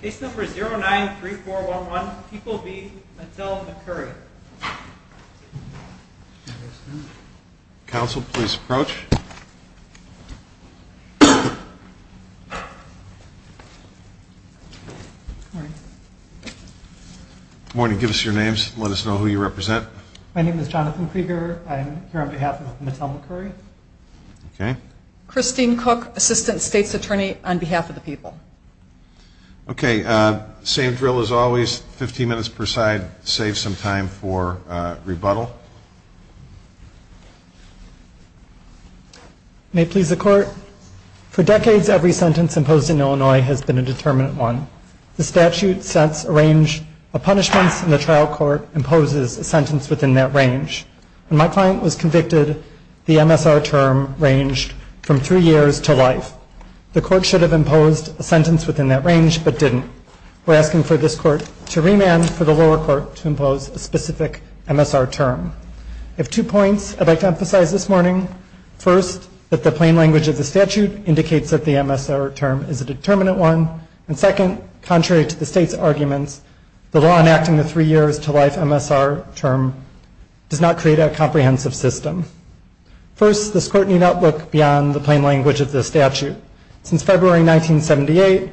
Case number 093411, People v. Mattel-McCurry. Counsel, please approach. Good morning. Give us your names. Let us know who you represent. My name is Jonathan Krieger. I'm here on behalf of Mattel-McCurry. Okay. Christine Cook, Assistant State's Attorney on behalf of the people. Okay. Same drill as always, 15 minutes per side. Save some time for rebuttal. May it please the Court. For decades, every sentence imposed in Illinois has been a determinant one. The statute sets a range of punishments, and the trial court imposes a sentence within that range. When my client was convicted, the MSR term ranged from three years to life. The Court should have imposed a sentence within that range but didn't. We're asking for this Court to remand for the lower court to impose a specific MSR term. I have two points I'd like to emphasize this morning. First, that the plain language of the statute indicates that the MSR term is a determinant one. And second, contrary to the State's arguments, the law enacting the three years to life MSR term does not create a comprehensive system. First, this Court need not look beyond the plain language of the statute. Since February 1978,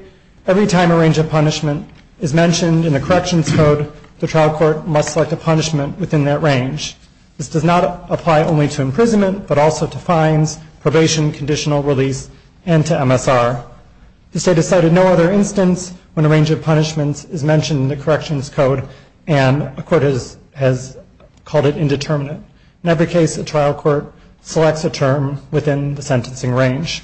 every time a range of punishment is mentioned in a corrections code, the trial court must select a punishment within that range. This does not apply only to imprisonment, but also to fines, probation, conditional release, and to MSR. The State has cited no other instance when a range of punishments is mentioned in the corrections code and a court has called it indeterminate. In every case, a trial court selects a term within the sentencing range.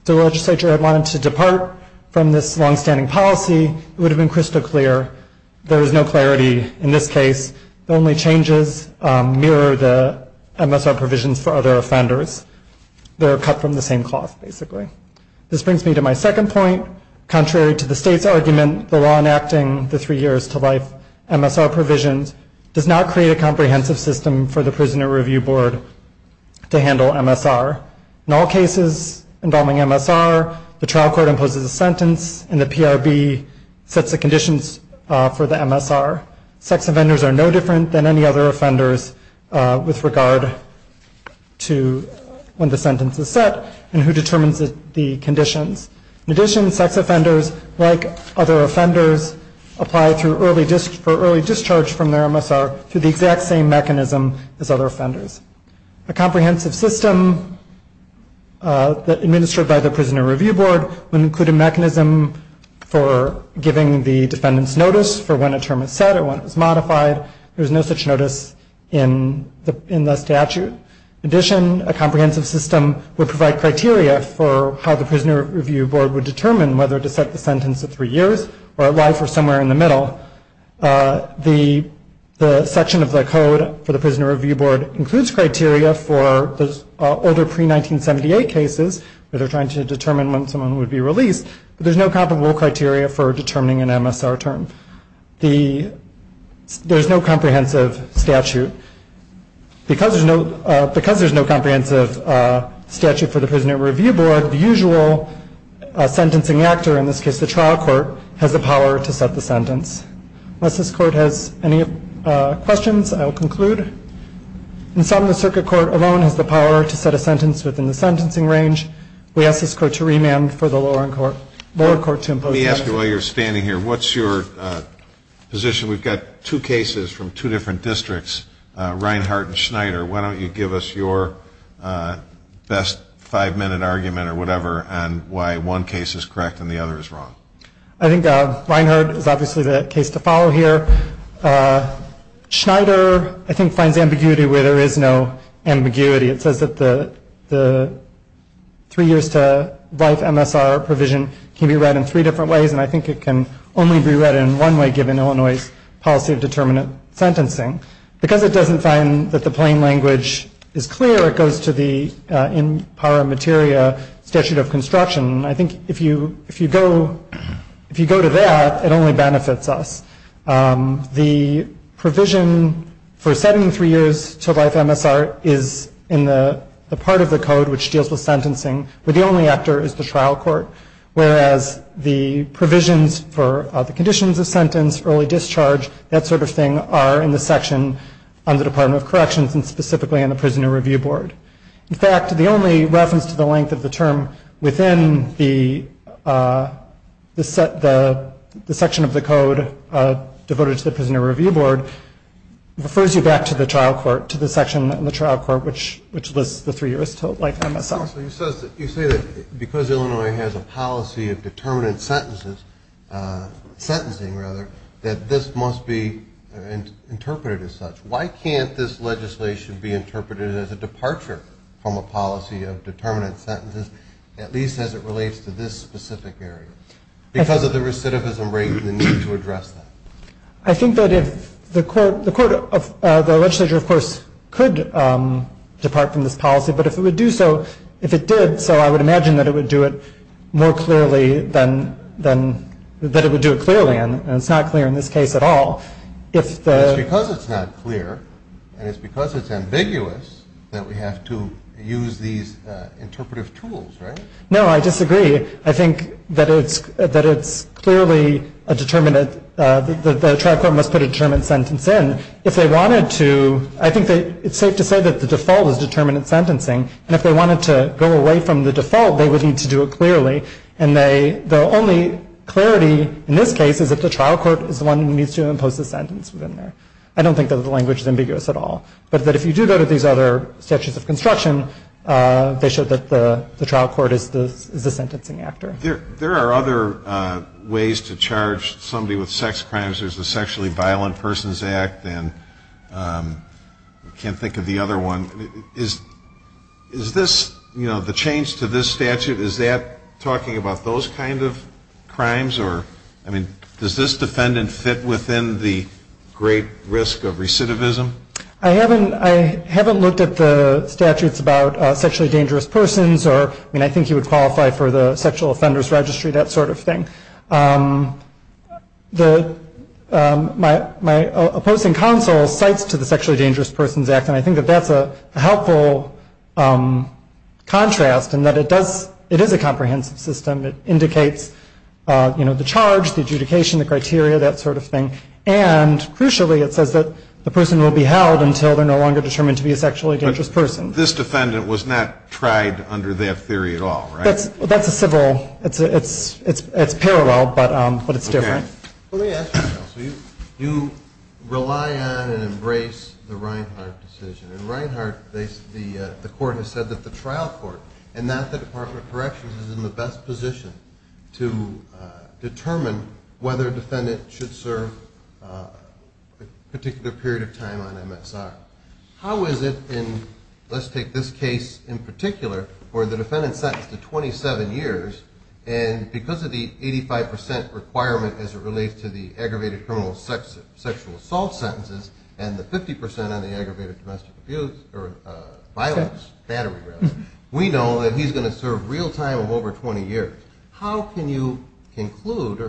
If the legislature had wanted to depart from this longstanding policy, it would have been crystal clear. There is no clarity in this case. The only changes mirror the MSR provisions for other offenders. They're cut from the same cloth, basically. This brings me to my second point. Contrary to the State's argument, the law enacting the three years to life MSR provisions does not create a comprehensive system for the Prisoner Review Board to handle MSR. In all cases involving MSR, the trial court imposes a sentence and the PRB sets the conditions for the MSR. Sex offenders are no different than any other offenders with regard to when the sentence is set and who determines the conditions. In addition, sex offenders, like other offenders, apply for early discharge from their MSR through the exact same mechanism as other offenders. A comprehensive system administered by the Prisoner Review Board would include a mechanism for giving the defendants notice for when a term is set or when it was modified. There is no such notice in the statute. In addition, a comprehensive system would provide criteria for how the Prisoner Review Board would determine whether to set the sentence at three years or at life or somewhere in the middle. The section of the code for the Prisoner Review Board includes criteria for older pre-1978 cases that are trying to determine when someone would be released, but there's no comparable criteria for determining an MSR term. There's no comprehensive statute. Because there's no comprehensive statute for the Prisoner Review Board, the usual sentencing actor, in this case the trial court, has the power to set the sentence. Unless this court has any questions, I will conclude. In sum, the circuit court alone has the power to set a sentence within the sentencing range. We ask this court to remand for the lower court to impose the sentence. Let me ask you while you're standing here, what's your position? We've got two cases from two different districts, Reinhardt and Schneider. Why don't you give us your best five-minute argument or whatever on why one case is correct and the other is wrong? I think Reinhardt is obviously the case to follow here. Schneider, I think, finds ambiguity where there is no ambiguity. It says that the three years to life MSR provision can be read in three different ways, and I think it can only be read in one way given Illinois' policy of determinate sentencing. Because it doesn't find that the plain language is clear, it goes to the In Para Materia statute of construction. I think if you go to that, it only benefits us. The provision for setting three years to life MSR is in the part of the code which deals with sentencing, but the only actor is the trial court. Whereas the provisions for the conditions of sentence, early discharge, that sort of thing are in the section on the Department of Corrections and specifically in the Prisoner Review Board. In fact, the only reference to the length of the term within the section of the code devoted to the Prisoner Review Board refers you back to the trial court, to the section on the trial court which lists the three years to life MSR. So you say that because Illinois has a policy of determinate sentences, sentencing rather, that this must be interpreted as such. Why can't this legislation be interpreted as a departure from a policy of determinate sentences, at least as it relates to this specific area? Because of the recidivism rate and the need to address that. I think that if the court of the legislature, of course, could depart from this policy, but if it would do so, if it did, so I would imagine that it would do it more clearly than, that it would do it clearly and it's not clear in this case at all. It's because it's not clear and it's because it's ambiguous that we have to use these interpretive tools, right? No, I disagree. I think that it's clearly a determinate, the trial court must put a determinate sentence in. If they wanted to, I think it's safe to say that the default is determinate sentencing, and if they wanted to go away from the default, they would need to do it clearly. And the only clarity in this case is that the trial court is the one who needs to impose the sentence within there. I don't think that the language is ambiguous at all. But that if you do go to these other statutes of construction, they show that the trial court is the sentencing actor. There are other ways to charge somebody with sex crimes. There's the Sexually Violent Persons Act and I can't think of the other one. Is this, you know, the change to this statute, is that talking about those kind of crimes or, I mean, does this defendant fit within the great risk of recidivism? I haven't looked at the statutes about sexually dangerous persons or, I mean, I think he would qualify for the sexual offenders registry, that sort of thing. My opposing counsel cites to the Sexually Dangerous Persons Act, and I think that that's a helpful contrast in that it does, it is a comprehensive system. It indicates, you know, the charge, the adjudication, the criteria, that sort of thing. And crucially, it says that the person will be held until they're no longer determined to be a sexually dangerous person. This defendant was not tried under that theory at all, right? That's a civil, it's parallel, but it's different. Let me ask you something else. You rely on and embrace the Reinhart decision. In Reinhart, the court has said that the trial court, and not the Department of Corrections, is in the best position to determine whether a defendant should serve a particular period of time on MSR. How is it in, let's take this case in particular, where the defendant is sentenced to 27 years, and because of the 85% requirement as it relates to the aggravated criminal sexual assault sentences and the 50% on the aggravated domestic abuse, or violence, battery rather, we know that he's going to serve real time of over 20 years. How can you conclude,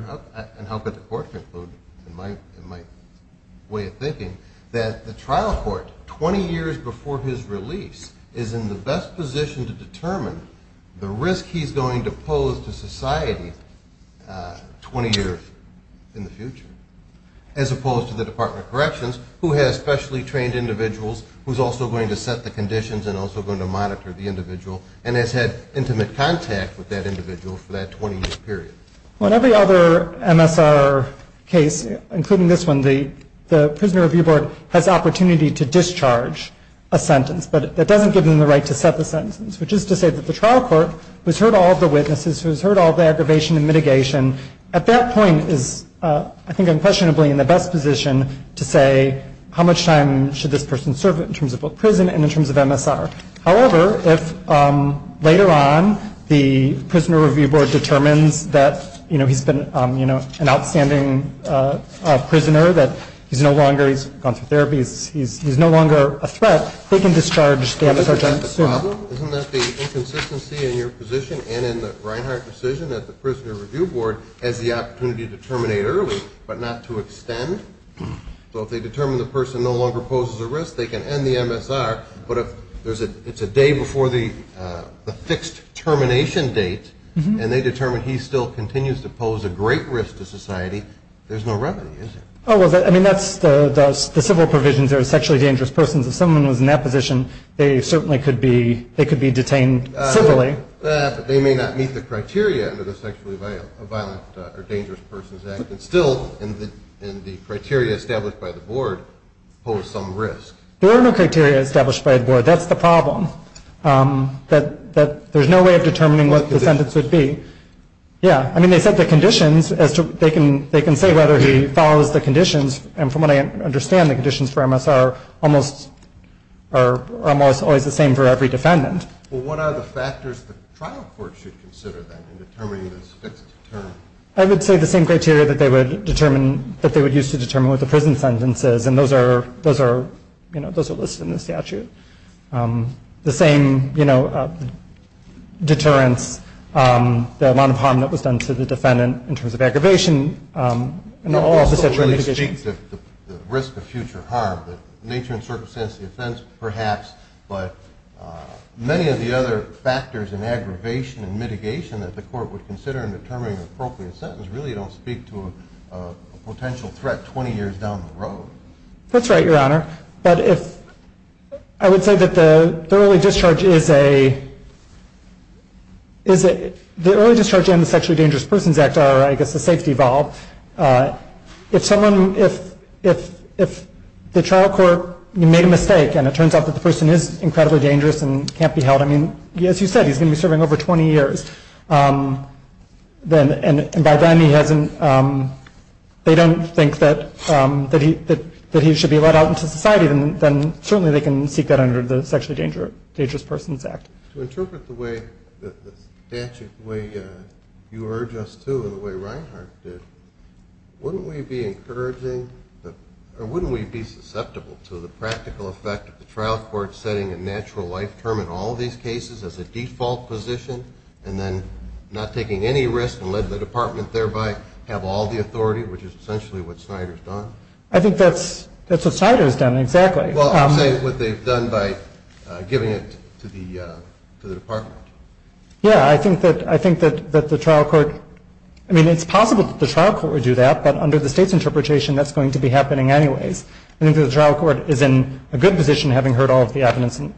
and how could the court conclude in my way of thinking, that the trial court, 20 years before his release, is in the best position to determine the risk he's going to pose to society 20 years in the future, as opposed to the Department of Corrections, who has specially trained individuals, who's also going to set the conditions and also going to monitor the individual, and has had intimate contact with that individual for that 20-year period? Well, in every other MSR case, including this one, the Prisoner Review Board has the opportunity to discharge a sentence, but that doesn't give them the right to set the sentence, which is to say that the trial court, who's heard all of the witnesses, who's heard all of the aggravation and mitigation, at that point is, I think unquestionably, in the best position to say how much time should this person serve in terms of both prison and in terms of MSR. However, if later on the Prisoner Review Board determines that he's been an outstanding prisoner, that he's no longer, he's gone through therapy, he's no longer a threat, they can discharge the MSR sentence. Isn't that the problem? Isn't that the inconsistency in your position and in the Reinhart decision that the Prisoner Review Board has the opportunity to terminate early, but not to extend? So if they determine the person no longer poses a risk, they can end the MSR, but if it's a day before the fixed termination date, and they determine he still continues to pose a great risk to society, there's no remedy, is there? I mean, that's the civil provisions are sexually dangerous persons. If someone was in that position, they certainly could be detained civilly. But they may not meet the criteria under the Sexually Violent or Dangerous Persons Act, and still, in the criteria established by the board, pose some risk. There are no criteria established by the board. That's the problem, that there's no way of determining what the sentence would be. Yeah, I mean, they said the conditions as to, they can say whether he follows the conditions, and from what I understand, the conditions for MSR are almost always the same for every defendant. Well, what are the factors the trial court should consider then in determining the fixed term? I would say the same criteria that they would determine, that they would use to determine what the prison sentence is, and those are listed in the statute. The same, you know, deterrence, the amount of harm that was done to the defendant in terms of aggravation, and all the sexual mitigations. The risk of future harm, the nature and circumstance of the offense, perhaps, but many of the other factors in aggravation and mitigation that the court would consider in determining an appropriate sentence really don't speak to a potential threat 20 years down the road. That's right, Your Honor. But if, I would say that the early discharge is a, the early discharge and the Sexually Dangerous Persons Act are, I guess, a safety valve. If someone, if the trial court made a mistake, and it turns out that the person is incredibly dangerous and can't be held, I mean, as you said, he's going to be serving over 20 years, and by then he hasn't, they don't think that he should be let out into society, then certainly they can seek that under the Sexually Dangerous Persons Act. To interpret the way that the statute, the way you urge us to and the way Reinhart did, wouldn't we be encouraging, or wouldn't we be susceptible to the practical effect of the trial court setting a natural life term in all of these cases as a default position and then not taking any risk and let the department thereby have all the authority, which is essentially what Snyder's done? I think that's what Snyder's done, exactly. Well, I'm saying what they've done by giving it to the department. Yeah, I think that the trial court, I mean, it's possible that the trial court would do that, but under the State's interpretation that's going to be happening anyways. I think the trial court is in a good position having heard all of the evidence and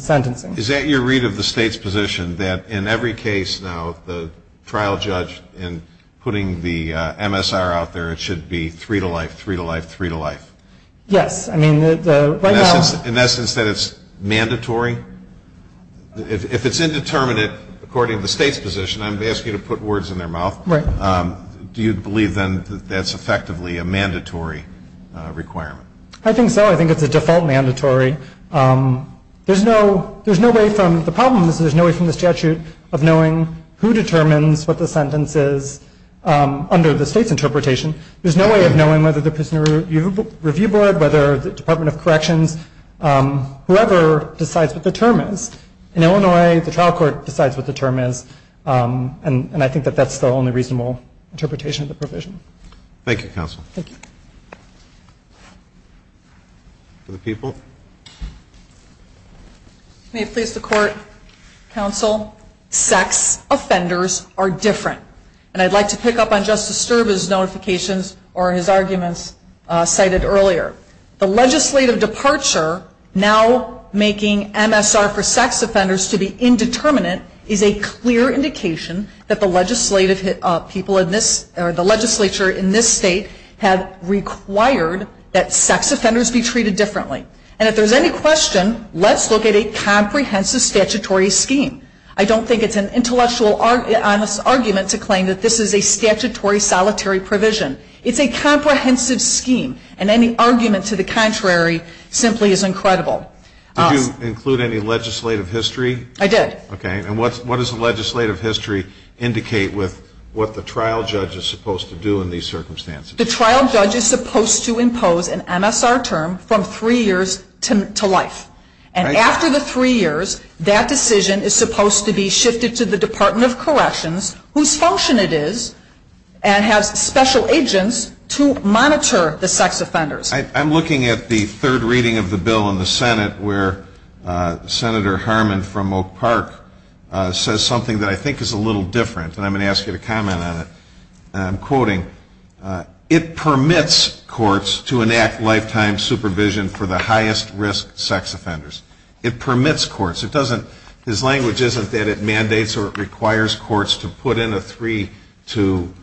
sentencing. Is that your read of the State's position, that in every case now the trial judge in putting the MSR out there, it should be three to life, three to life, three to life? Yes. In that sense that it's mandatory? If it's indeterminate, according to the State's position, I'm asking you to put words in their mouth, do you believe then that that's effectively a mandatory requirement? I think so. I think it's a default mandatory. There's no way from the problems, there's no way from the statute of knowing who determines what the sentence is under the State's interpretation. There's no way of knowing whether the prisoner review board, whether the Department of Corrections, whoever decides what the term is. In Illinois, the trial court decides what the term is, and I think that that's the only reasonable interpretation of the provision. Thank you, counsel. Thank you. Other people? May it please the Court, counsel, sex offenders are different, and I'd like to pick up on Justice Sterb's notifications or his arguments cited earlier. The legislative departure, now making MSR for sex offenders to be indeterminate, is a clear indication that the legislative people in this, or the legislature in this State, have required that sex offenders be treated differently. And if there's any question, let's look at a comprehensive statutory scheme. I don't think it's an intellectual argument to claim that this is a statutory solitary provision. It's a comprehensive scheme, and any argument to the contrary simply is incredible. Did you include any legislative history? I did. Okay. And what does the legislative history indicate with what the trial judge is supposed to do in these circumstances? The trial judge is supposed to impose an MSR term from three years to life. And after the three years, that decision is supposed to be shifted to the Department of Corrections, whose function it is, and has special agents to monitor the sex offenders. I'm looking at the third reading of the bill in the Senate, where Senator Harmon from Oak Park says something that I think is a little different, and I'm going to ask you to comment on it. And I'm quoting, It permits courts to enact lifetime supervision for the highest risk sex offenders. It permits courts. His language isn't that it mandates or it requires courts to put in a three-to-lifetime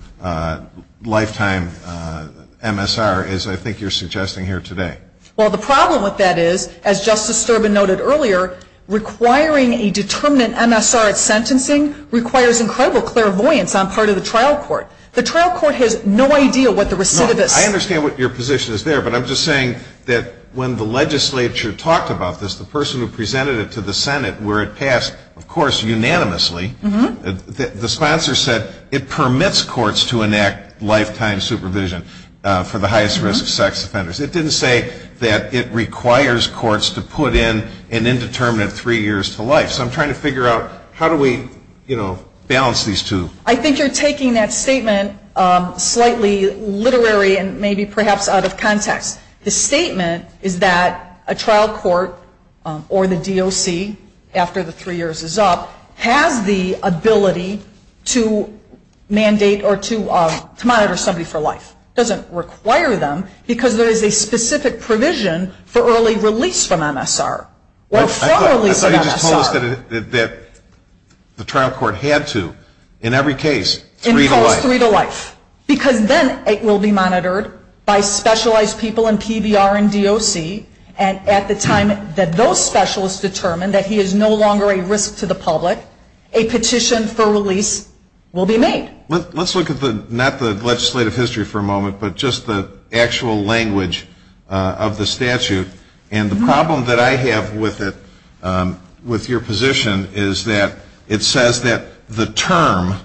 MSR, as I think you're suggesting here today. Well, the problem with that is, as Justice Sterbin noted earlier, requiring a determinate MSR at sentencing requires incredible clairvoyance on part of the trial court. The trial court has no idea what the recidivists. I understand what your position is there, but I'm just saying that when the legislature talked about this, the person who presented it to the Senate, where it passed, of course, unanimously, the sponsor said it permits courts to enact lifetime supervision for the highest risk sex offenders. It didn't say that it requires courts to put in an indeterminate three years to life. So I'm trying to figure out how do we balance these two. I think you're taking that statement slightly literary and maybe perhaps out of context. The statement is that a trial court or the DOC, after the three years is up, has the ability to mandate or to monitor somebody for life. It doesn't require them because there is a specific provision for early release from MSR. I thought you just told us that the trial court had to, in every case, three to life. Because then it will be monitored by specialized people in PBR and DOC, and at the time that those specialists determine that he is no longer a risk to the public, a petition for release will be made. Let's look at not the legislative history for a moment, but just the actual language of the statute. And the problem that I have with it, with your position, is that it says that the term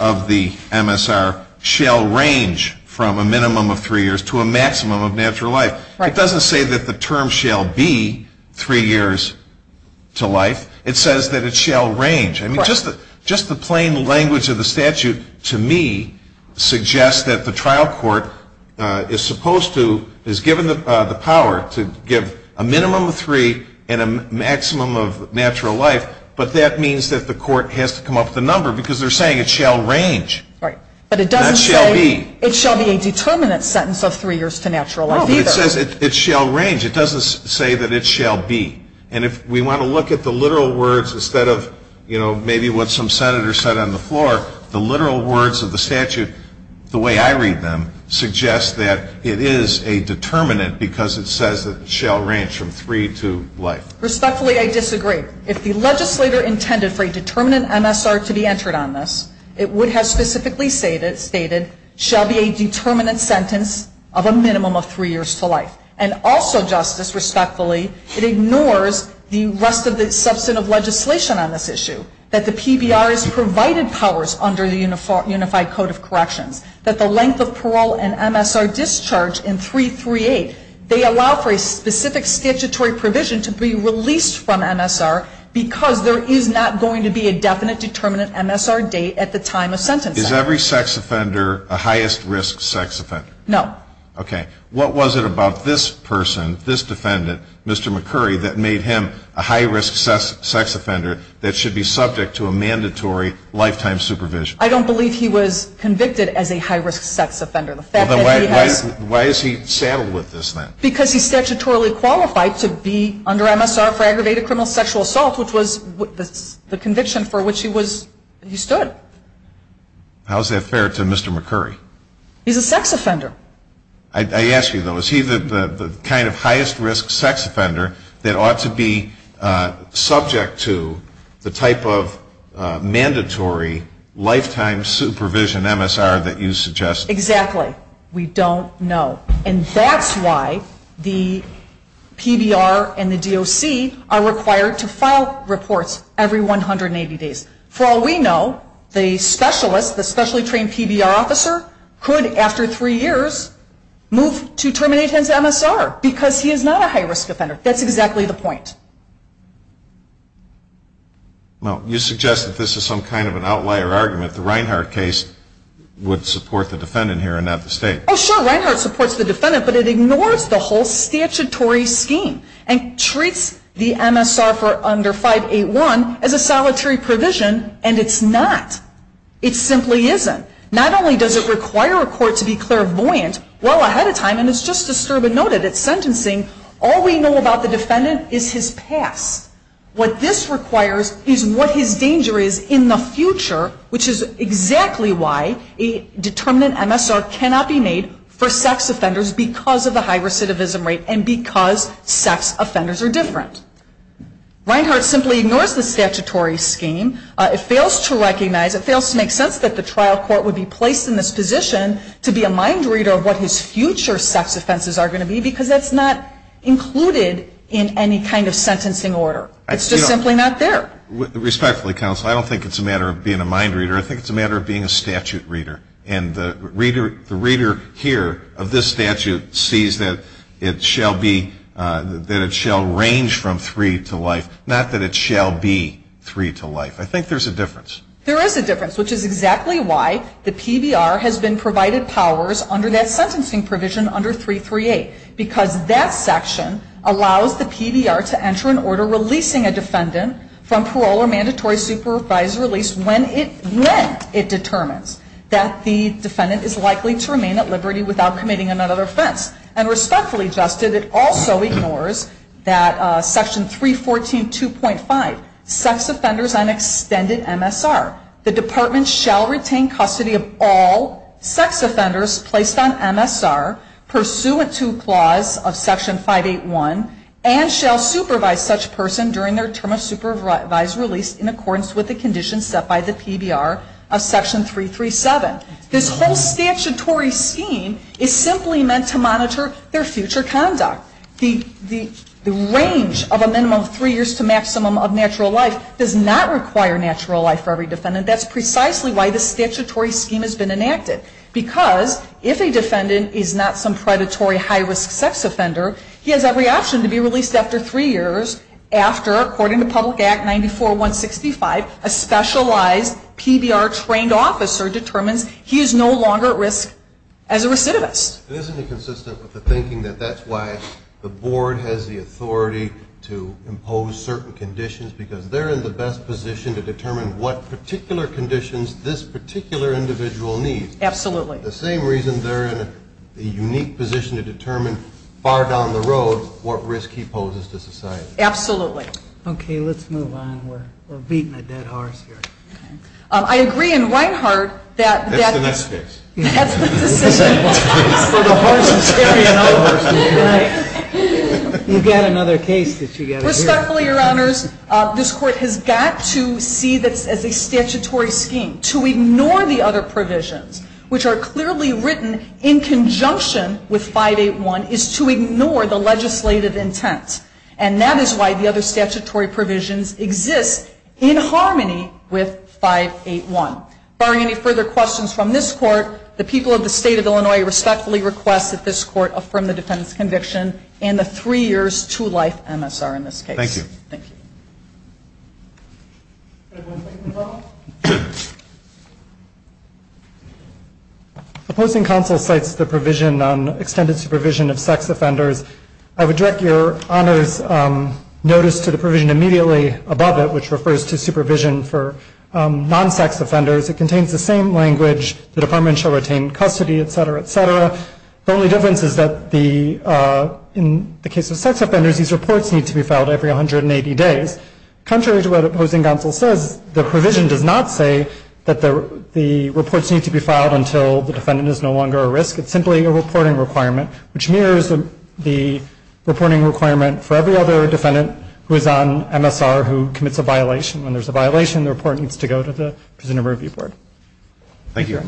of the MSR shall range from a minimum of three years to a maximum of natural life. It doesn't say that the term shall be three years to life. It says that it shall range. Just the plain language of the statute, to me, suggests that the trial court is supposed to, is given the power to give a minimum of three and a maximum of natural life, but that means that the court has to come up with a number because they're saying it shall range. Right. But it doesn't say it shall be a determinate sentence of three years to natural life either. No, but it says it shall range. It doesn't say that it shall be. And if we want to look at the literal words instead of, you know, maybe what some senator said on the floor, the literal words of the statute, the way I read them, suggests that it is a determinate because it says that it shall range from three to life. Respectfully, I disagree. If the legislator intended for a determinate MSR to be entered on this, it would have specifically stated shall be a determinate sentence of a minimum of three years to life. And also, Justice, respectfully, it ignores the rest of the substantive legislation on this issue, that the PBR has provided powers under the Unified Code of Corrections, that the length of parole and MSR discharge in 338, they allow for a specific statutory provision to be released from MSR because there is not going to be a definite determinate MSR date at the time of sentencing. Is every sex offender a highest risk sex offender? No. Okay. What was it about this person, this defendant, Mr. McCurry, that made him a high risk sex offender that should be subject to a mandatory lifetime supervision? I don't believe he was convicted as a high risk sex offender. Why is he saddled with this then? Because he's statutorily qualified to be under MSR for aggravated criminal sexual assault, which was the conviction for which he was, he stood. How is that fair to Mr. McCurry? He's a sex offender. I ask you though, is he the kind of highest risk sex offender that ought to be subject to the type of mandatory lifetime supervision MSR that you suggest? Exactly. We don't know. And that's why the PBR and the DOC are required to file reports every 180 days. For all we know, the specialist, the specially trained PBR officer, could, after three years, move to terminate his MSR because he is not a high risk offender. That's exactly the point. Well, you suggest that this is some kind of an outlier argument. The Reinhardt case would support the defendant here and not the state. Oh, sure. Reinhardt supports the defendant, but it ignores the whole statutory scheme and treats the MSR for under 581 as a solitary provision, and it's not. It simply isn't. Not only does it require a court to be clairvoyant well ahead of time, and it's just as Sturman noted at sentencing, all we know about the defendant is his past. What this requires is what his danger is in the future, which is exactly why a determinant MSR cannot be made for sex offenders because of the high recidivism rate and because sex offenders are different. Reinhardt simply ignores the statutory scheme. It fails to recognize, it fails to make sense that the trial court would be placed in this position to be a mind reader of what his future sex offenses are going to be because that's not included in any kind of sentencing order. It's just simply not there. Respectfully, counsel, I don't think it's a matter of being a mind reader. I think it's a matter of being a statute reader. And the reader here of this statute sees that it shall be, that it shall range from three to life, not that it shall be three to life. I think there's a difference. There is a difference, which is exactly why the PBR has been provided powers under that sentencing provision under 338 because that section allows the PBR to enter an order releasing a defendant from parole or mandatory supervisory release when it determines that the defendant is likely to remain at liberty without committing another offense. And respectfully, Justice, it also ignores that section 314.2.5, sex offenders on extended MSR. The department shall retain custody of all sex offenders placed on MSR, pursuant to clause of section 581, and shall supervise such person during their term of supervised release in accordance with the conditions set by the PBR of section 337. This whole statutory scheme is simply meant to monitor their future conduct. The range of a minimum of three years to maximum of natural life does not require natural life for every defendant. That's precisely why this statutory scheme has been enacted, because if a defendant is not some predatory high-risk sex offender, he has every option to be released after three years after, according to Public Act 94-165, a specialized PBR-trained officer determines he is no longer at risk as a recidivist. Isn't it consistent with the thinking that that's why the board has the authority to impose certain conditions because they're in the best position to determine what particular conditions this particular individual needs? Absolutely. The same reason they're in a unique position to determine far down the road what risk he poses to society. Absolutely. Okay. Let's move on. We're beating a dead horse here. I agree in Reinhardt that that's the decision. That's the next case. That's the decision. You've got another case that you've got to deal with. Respectfully, Your Honors, this Court has got to see this as a statutory scheme to ignore the other provisions, which are clearly written in conjunction with 581, is to ignore the legislative intent. And that is why the other statutory provisions exist in harmony with 581. If there are any further questions from this Court, the people of the State of Illinois respectfully request that this Court affirm the defendant's conviction and the three years to life MSR in this case. Thank you. Thank you. Anyone want to make a comment? The Posting Council cites the provision on extended supervision of sex offenders. I would direct Your Honors' notice to the provision immediately above it, which refers to supervision for non-sex offenders. It contains the same language, the department shall retain custody, et cetera, et cetera. The only difference is that in the case of sex offenders, these reports need to be filed every 180 days. Contrary to what the Posting Council says, the provision does not say that the reports need to be filed until the defendant is no longer a risk. It's simply a reporting requirement, which mirrors the reporting requirement for every other defendant who is on MSR who commits a violation. When there's a violation, the report needs to go to the Prisoner Review Board. Thank you.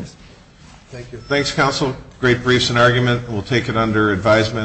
Thank you. Thanks, Counsel. Great briefs and argument. We'll take it under advisement.